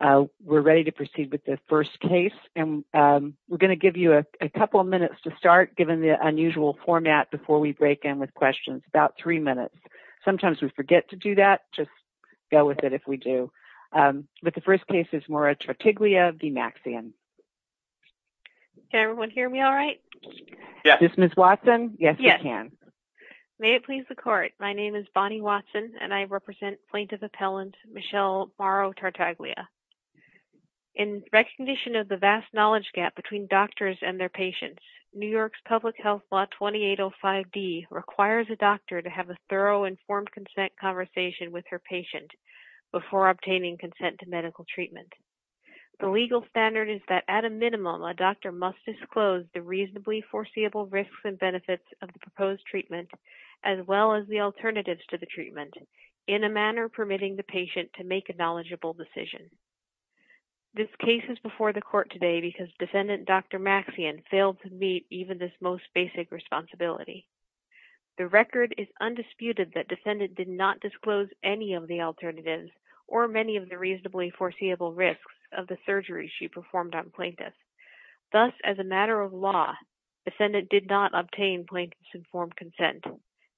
We're ready to proceed with the first case. And we're going to give you a couple of minutes to start, given the unusual format, before we break in with questions. About three minutes. Sometimes we forget to do that. Just go with it if we do. But the first case is Moro-Tartaglia v. Maxian. Can everyone hear me all right? Yes. This is Ms. Watson. Yes, we can. May it please the court. My name is Bonnie Watson, and I represent plaintiff appellant Michelle Moro-Tartaglia. In recognition of the vast knowledge gap between doctors and their patients, New York's public health law 2805D requires a doctor to have a thorough informed consent conversation with her patient before obtaining consent to medical treatment. The legal standard is that at a minimum, a doctor must disclose the reasonably foreseeable risks and benefits of the proposed treatment, as well as the alternatives to the treatment, in a manner permitting the patient to make a knowledgeable decision. This case is before the court today because defendant Dr. Maxian failed to meet even this most basic responsibility. The record is undisputed that defendant did not disclose any of the alternatives or many of the reasonably foreseeable risks of the surgery she performed on plaintiffs. Thus, as a matter of law, defendant did not obtain plaintiff's informed consent,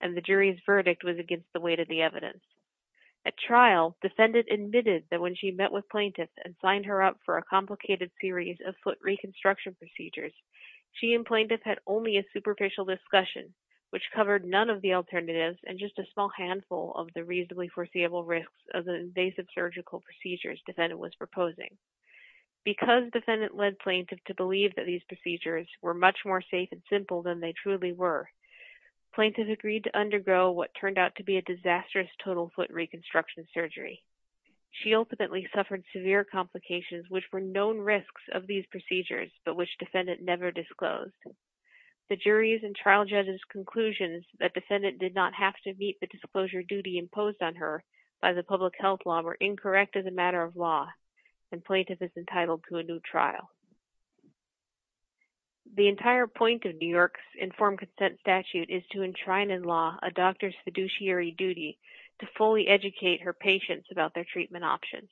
and the jury's verdict was against the evidence. At trial, defendant admitted that when she met with plaintiff and signed her up for a complicated series of foot reconstruction procedures, she and plaintiff had only a superficial discussion, which covered none of the alternatives and just a small handful of the reasonably foreseeable risks of the invasive surgical procedures defendant was proposing. Because defendant led plaintiff to believe that these procedures were much more safe and simple than they truly were, plaintiff agreed to undergo what turned out to be a disastrous total foot reconstruction surgery. She ultimately suffered severe complications, which were known risks of these procedures, but which defendant never disclosed. The jury's and trial judge's conclusions that defendant did not have to meet the disclosure duty imposed on her by the public health law were incorrect as a matter of law, and plaintiff is entitled to a new trial. The entire point of New York's informed consent statute is to enshrine in law a doctor's fiduciary duty to fully educate her patients about their treatment options.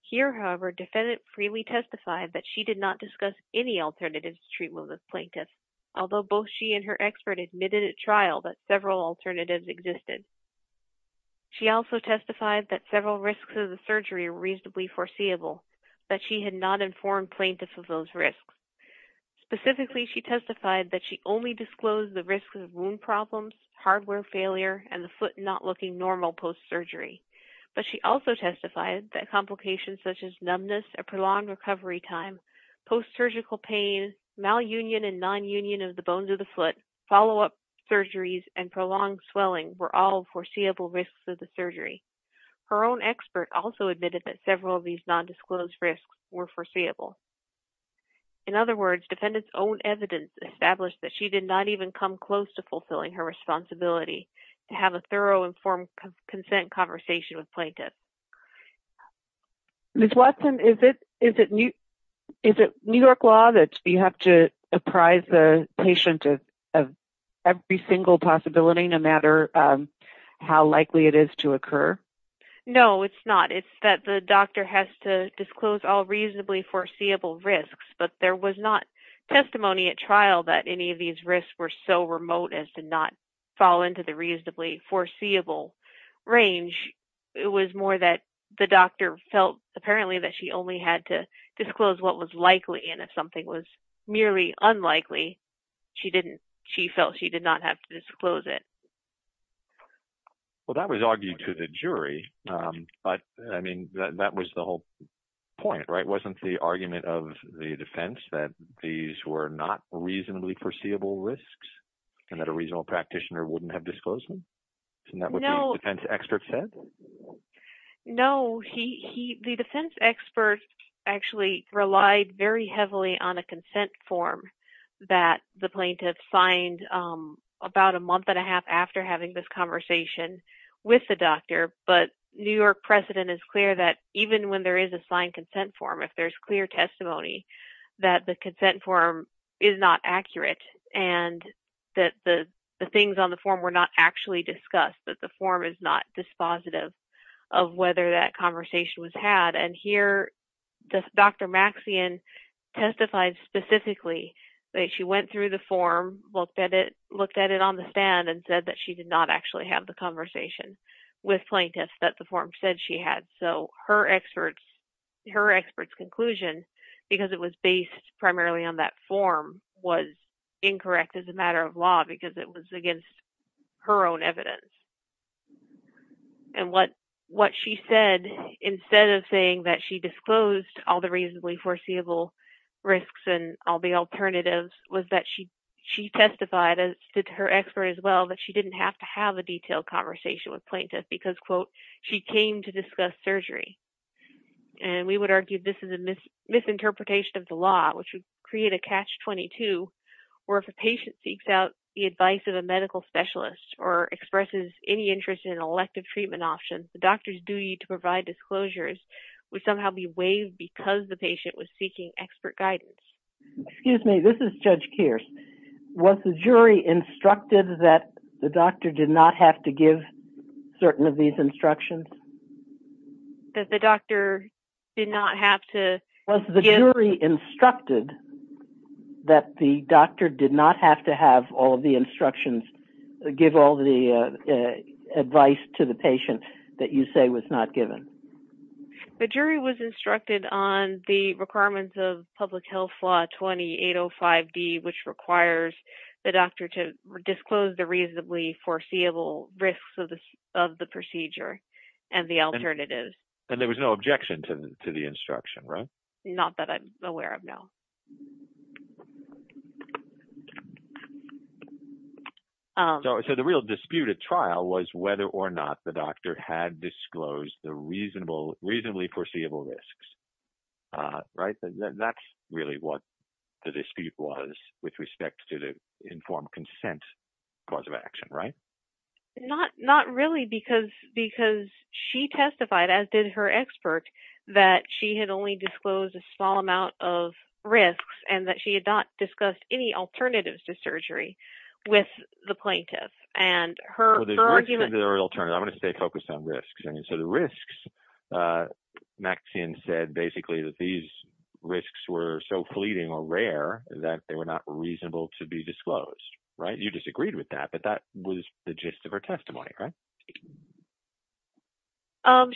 Here, however, defendant freely testified that she did not discuss any alternatives to treatment with plaintiff, although both she and her expert admitted at trial that several alternatives existed. She also testified that several risks of the surgery were reasonably foreseeable, that she had not informed plaintiff of those risks. Specifically, she testified that she only disclosed the risks of wound problems, hardware failure, and the foot not looking normal post-surgery, but she also testified that complications such as numbness, a prolonged recovery time, post-surgical pain, malunion and nonunion of the bones of the foot, follow-up surgeries, and prolonged swelling were all foreseeable risks of the surgery. Her own expert also admitted that several of these non-disclosed risks were foreseeable. In other words, defendant's own evidence established that she did not even come close to fulfilling her responsibility to have a thorough informed consent conversation with plaintiff. Ms. Watson, is it New York law that you have to apprise the patient of every single possibility, no matter how likely it is to occur? No, it's not. It's that the doctor has to disclose all reasonably foreseeable risks, but there was not testimony at trial that any of these risks were so remote as to not fall into the reasonably foreseeable range. It was more that the doctor felt apparently that she only had to disclose what was likely, and if something was merely unlikely, she felt she did not have to disclose it. Well, that was argued to the jury, but I mean, that was the whole point, right? Wasn't the argument of the defense that these were not reasonably foreseeable risks and that a reasonable practitioner wouldn't have disclosed them? Isn't that what the defense expert said? No, the defense expert actually relied very heavily on a consent form that the plaintiff signed about a month and a half after having this conversation with the doctor, but New York precedent is clear that even when there is a signed consent form, if there's clear testimony, that the consent form is not accurate and that the things on the form were not actually discussed, that the form is not dispositive of whether that conversation was had, and here, Dr. Maxian testified specifically that she went through the form, looked at it, looked at it on the stand and said that she did not actually have the conversation with plaintiffs that the form said she had, so her expert's conclusion, because it was based primarily on that form, was incorrect as a matter of law because it was against her own evidence, and what she said instead of saying that she disclosed all the reasonably foreseeable risks and all the alternatives was that she testified, as did her expert as well, that she didn't have to have a detailed conversation with plaintiffs because, quote, she came to discuss surgery, and we would argue this is a misinterpretation of the law, which would create a catch-22 where if a patient seeks out the advice of a medical specialist or expresses any interest in an elective treatment option, the doctor's duty to provide disclosures would somehow be waived because the patient was seeking expert guidance. Excuse me, this is Judge Kearse. Was the jury instructed that the doctor did not have to give certain of these instructions? That the doctor did not have to give... Was the jury instructed that the doctor did not have to have all of the instructions, give all the advice to the patient that you say was not given? The jury was instructed on the requirements of Public Health Law 20-805-D, which requires the doctor to disclose the reasonably foreseeable risks of the procedure and the alternatives. And there was no objection to the instruction, right? Not that I'm aware of, no. So the real dispute at trial was whether or not the doctor had disclosed the reasonably foreseeable risks, right? That's really what the dispute was with respect to the informed consent cause of action, right? Not really, because she testified, as did her expert, that she had only disclosed a small amount of risks and that she had not discussed any alternatives to surgery with the plaintiff. Well, the risks and the alternatives, I'm going to stay focused on risks. I mean, so the risks, Maxine said basically that these risks were so fleeting or rare that they were not reasonable to be disclosed, right? You disagreed with that, but that was the gist of her testimony, right?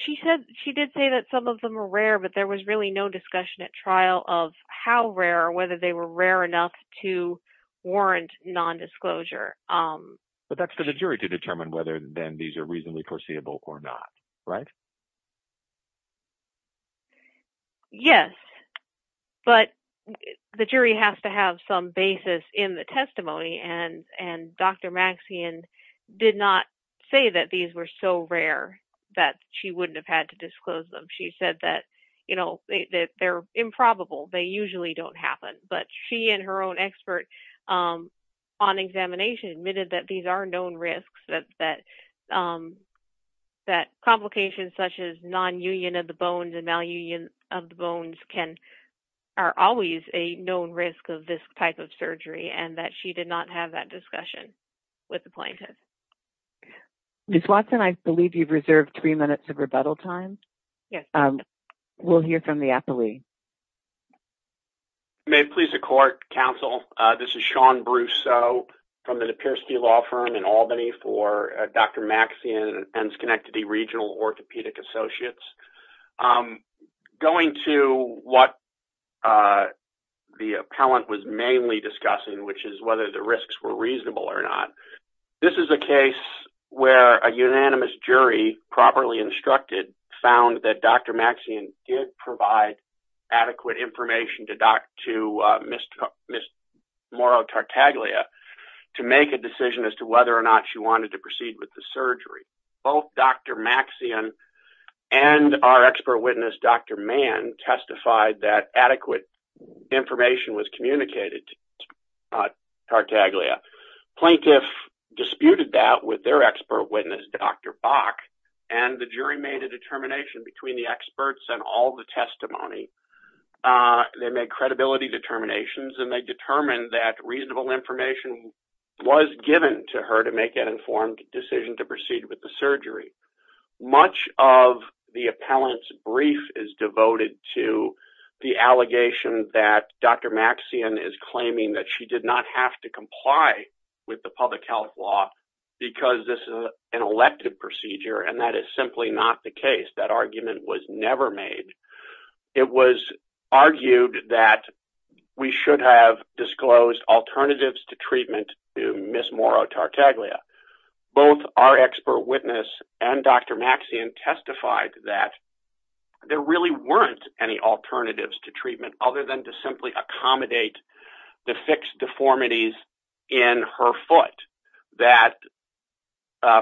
She did say that some of them were rare, but there was really no discussion at trial of how rare or whether they were rare enough to warrant nondisclosure. But that's for the jury to determine whether then these are reasonably foreseeable or not, right? Yes, but the jury has to have some basis in the testimony, and Dr. Maxine did not say that these were so rare that she wouldn't have had to disclose them. She said that they're improbable. They usually don't happen. But she and her own expert on examination admitted that these are known risks, that complications such as nonunion of the bones and malunion of the bones are always a known risk of this type of surgery, and that she did not have that discussion with the plaintiff. Ms. Watson, I believe you've reserved three minutes of rebuttal time. We'll hear from the appellee. If you may please accord, counsel, this is Sean Brousseau from the Napierski Law Firm in Albany for Dr. Maxine and Schenectady Regional Orthopedic Associates. Going to what the appellant was mainly discussing, which is whether the risks were reasonable or not, this is a case where a unanimous jury, properly instructed, found that Dr. Maxine did provide adequate information to Ms. Moro-Tartaglia to make a decision as to whether or not she wanted to proceed with the surgery. Both Dr. Maxine and our expert witness, Dr. Mann, testified that adequate information was communicated to Ms. Tartaglia. Plaintiff disputed that with their expert witness, Dr. Bach, and the jury made a determination between the experts and all the testimony. They made credibility determinations, and they determined that reasonable information was given to her to make an informed decision to proceed with the surgery. Much of the appellant's brief is devoted to the allegation that Dr. Maxine is claiming that she did not have to comply with the public health law because this is an elective procedure, and that is simply not the case. That argument was never made. It was argued that we should have disclosed alternatives to treatment to Ms. Moro-Tartaglia. Both our expert witness and Dr. Maxine testified that there really weren't any alternatives to treatment other than to simply accommodate the fixed deformities in her foot, that,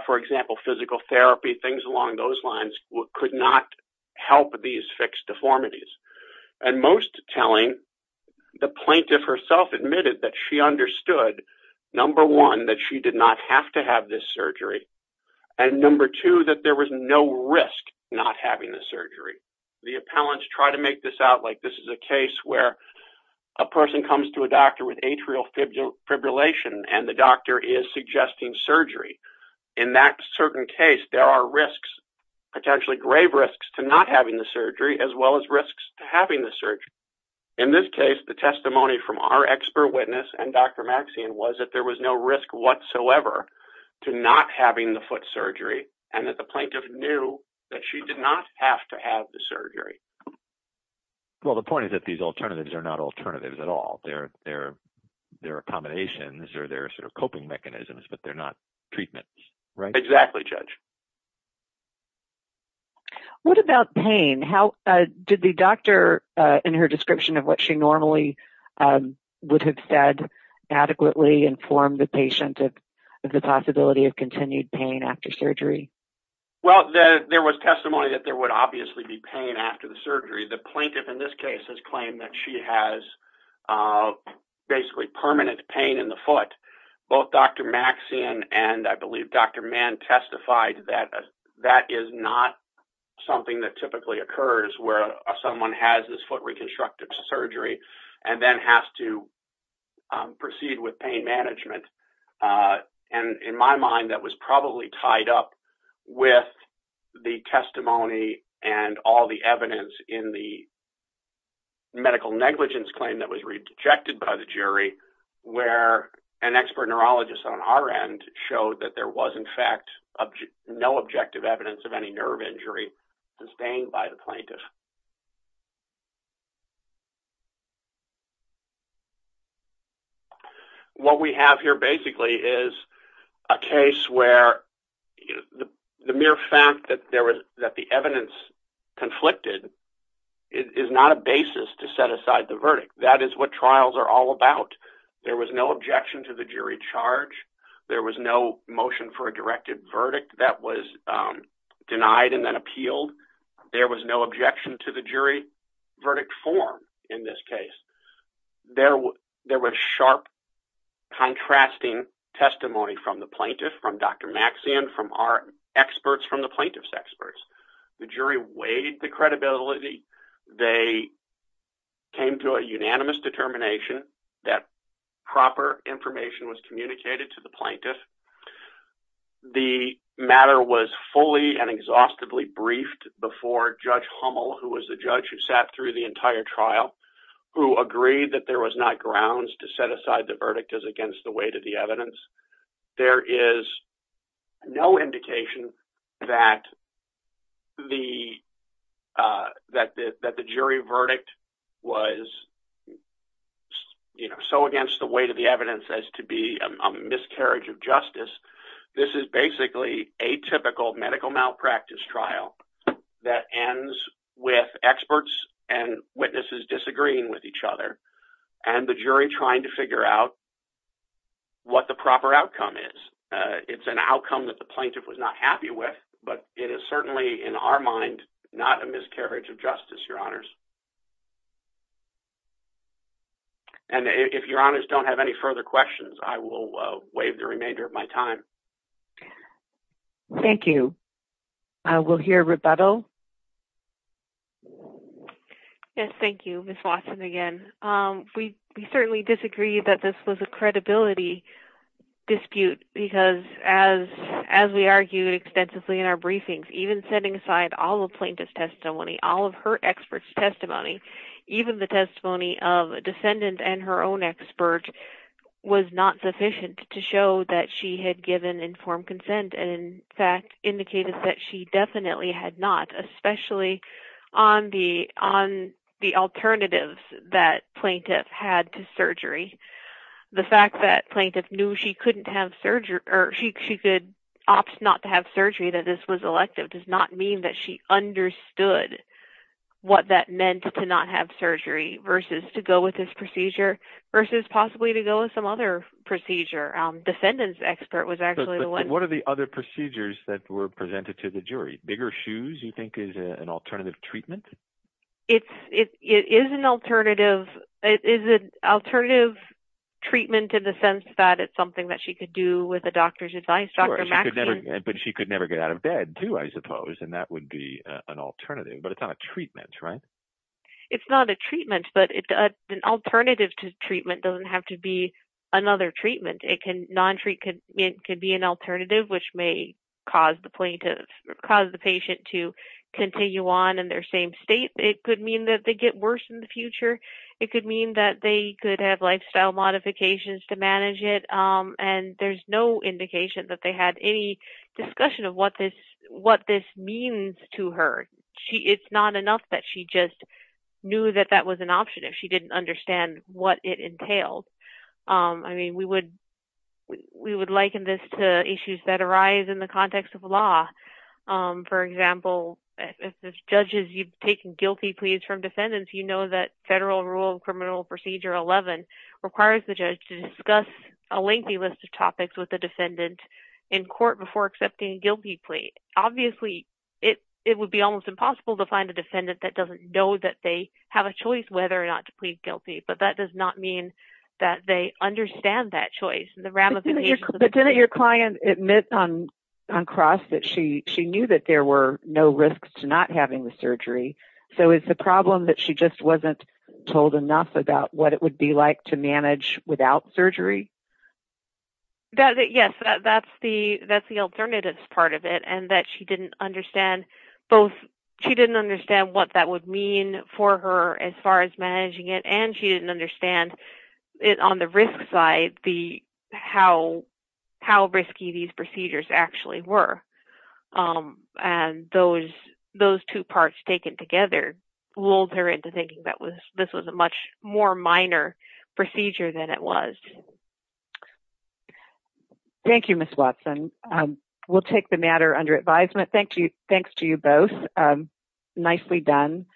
for example, physical therapy, things along those lines, could not help these fixed deformities. Most telling, the plaintiff herself admitted that she understood, number one, that she did not have to have this surgery, and number two, that there was no risk not having the surgery. The appellants try to make this out like this is a case where a person comes to a doctor with atrial fibrillation, and the doctor is suggesting surgery. In that certain case, there are risks, potentially grave risks, to not having the surgery as well as risks to having the surgery. In this case, the testimony from our expert witness and Dr. Maxine was that there was no risk whatsoever to not having the foot surgery, and that the plaintiff knew that she did not have to have the surgery. Well, the point is that these alternatives are not alternatives at all. They're accommodations or they're sort of coping mechanisms, but they're not treatments, right? Exactly, Judge. What about pain? Did the doctor, in her description of what she normally would have said, adequately inform the patient of the possibility of continued pain after surgery? Well, there was testimony that there would obviously be pain after the surgery. The plaintiff in this case has claimed that she has basically permanent pain in the foot. Both Dr. Maxine and I believe Dr. Mann testified that that is not something that typically occurs where someone has this foot reconstructive surgery and then has to proceed with pain management. In my mind, that was probably tied up with the testimony and all the evidence in the medical negligence claim that was rejected by the jury where an expert neurologist on our end showed that there was, in fact, no objective evidence of any nerve injury sustained by the plaintiff. What we have here, basically, is a case where the mere fact that the evidence conflicted is not a basis to set aside the verdict. That is what trials are all about. There was no objection to the jury charge. There was no motion for a directed verdict that was denied and then appealed. There was no objection to the jury's decision. The jury verdict form in this case, there was sharp contrasting testimony from the plaintiff, from Dr. Maxine, from our experts, from the plaintiff's experts. The jury weighed the credibility. They came to a unanimous determination that proper information was communicated to the plaintiff. The matter was fully and exhaustively briefed before Judge Hummel, who was the judge who sat through the entire trial, who agreed that there was not grounds to set aside the verdict as against the weight of the evidence. There is no indication that the jury verdict was so against the weight of the evidence as to be a miscarriage of justice. This is basically a typical medical malpractice trial that ends with experts and witnesses disagreeing with each other and the jury trying to figure out what the proper outcome is. It's an outcome that the plaintiff was not happy with, but it is certainly, in our mind, not a miscarriage of justice, Your Honors. If Your Honors don't have any further questions, I will waive the remainder of my time. Thank you. I will hear rebuttal. Yes, thank you, Ms. Watson, again. We certainly disagree that this was a credibility dispute because, as we argued extensively in our briefings, even setting aside all of plaintiff's testimony, all of her expert's testimony, even the testimony of a descendant and her own expert, was not sufficient to show that she had given informed consent and, in fact, indicated that she definitely had not, especially on the alternatives that plaintiff had to surgery. The fact that plaintiff knew she could opt not to have surgery, that this was elective, does not mean that she understood what that meant to not have surgery versus to go with this procedure versus possibly to go with some other procedure. Descendant's expert was actually the one. What are the other procedures that were presented to the jury? Bigger shoes, you think, is an alternative treatment? It is an alternative treatment in the sense that it's something that she could do with a doctor's advice. Sure, but she could never get out of bed, too, I suppose, and that would be an alternative, but it's not a treatment, right? It's not a treatment, but an alternative to treatment doesn't have to be another treatment. It can be an alternative, which may cause the patient to continue on in their same state. It could mean that they get worse in the future. It could mean that they could have lifestyle modifications to manage it, and there's no indication that they had any discussion of what this means to her. It's not enough that she just knew that that was an option if she didn't understand what it entailed. I mean, we would liken this to issues that arise in the context of law. For example, if the judge is taking guilty pleas from defendants, you know that Federal Rule of Criminal Procedure 11 requires the judge to discuss a lengthy list of topics with the defendant in court before accepting a guilty plea. Obviously, it would be almost impossible to find a defendant that doesn't know that they have a choice whether or not to plead guilty, but that does not mean that they understand that choice. But didn't your client admit on cross that she knew that there were no risks to not having the surgery, so it's a problem that she just wasn't told enough about what it would be like to manage without surgery? Yes, that's the alternative part of it, and that she didn't understand both what that would mean for her as far as managing it, and she didn't understand it on the side, how risky these procedures actually were. And those two parts taken together lulled her into thinking that this was a much more minor procedure than it was. Thank you, Ms. Watson. We'll take the matter under advisement. Thank you. Thanks to you both. Nicely done.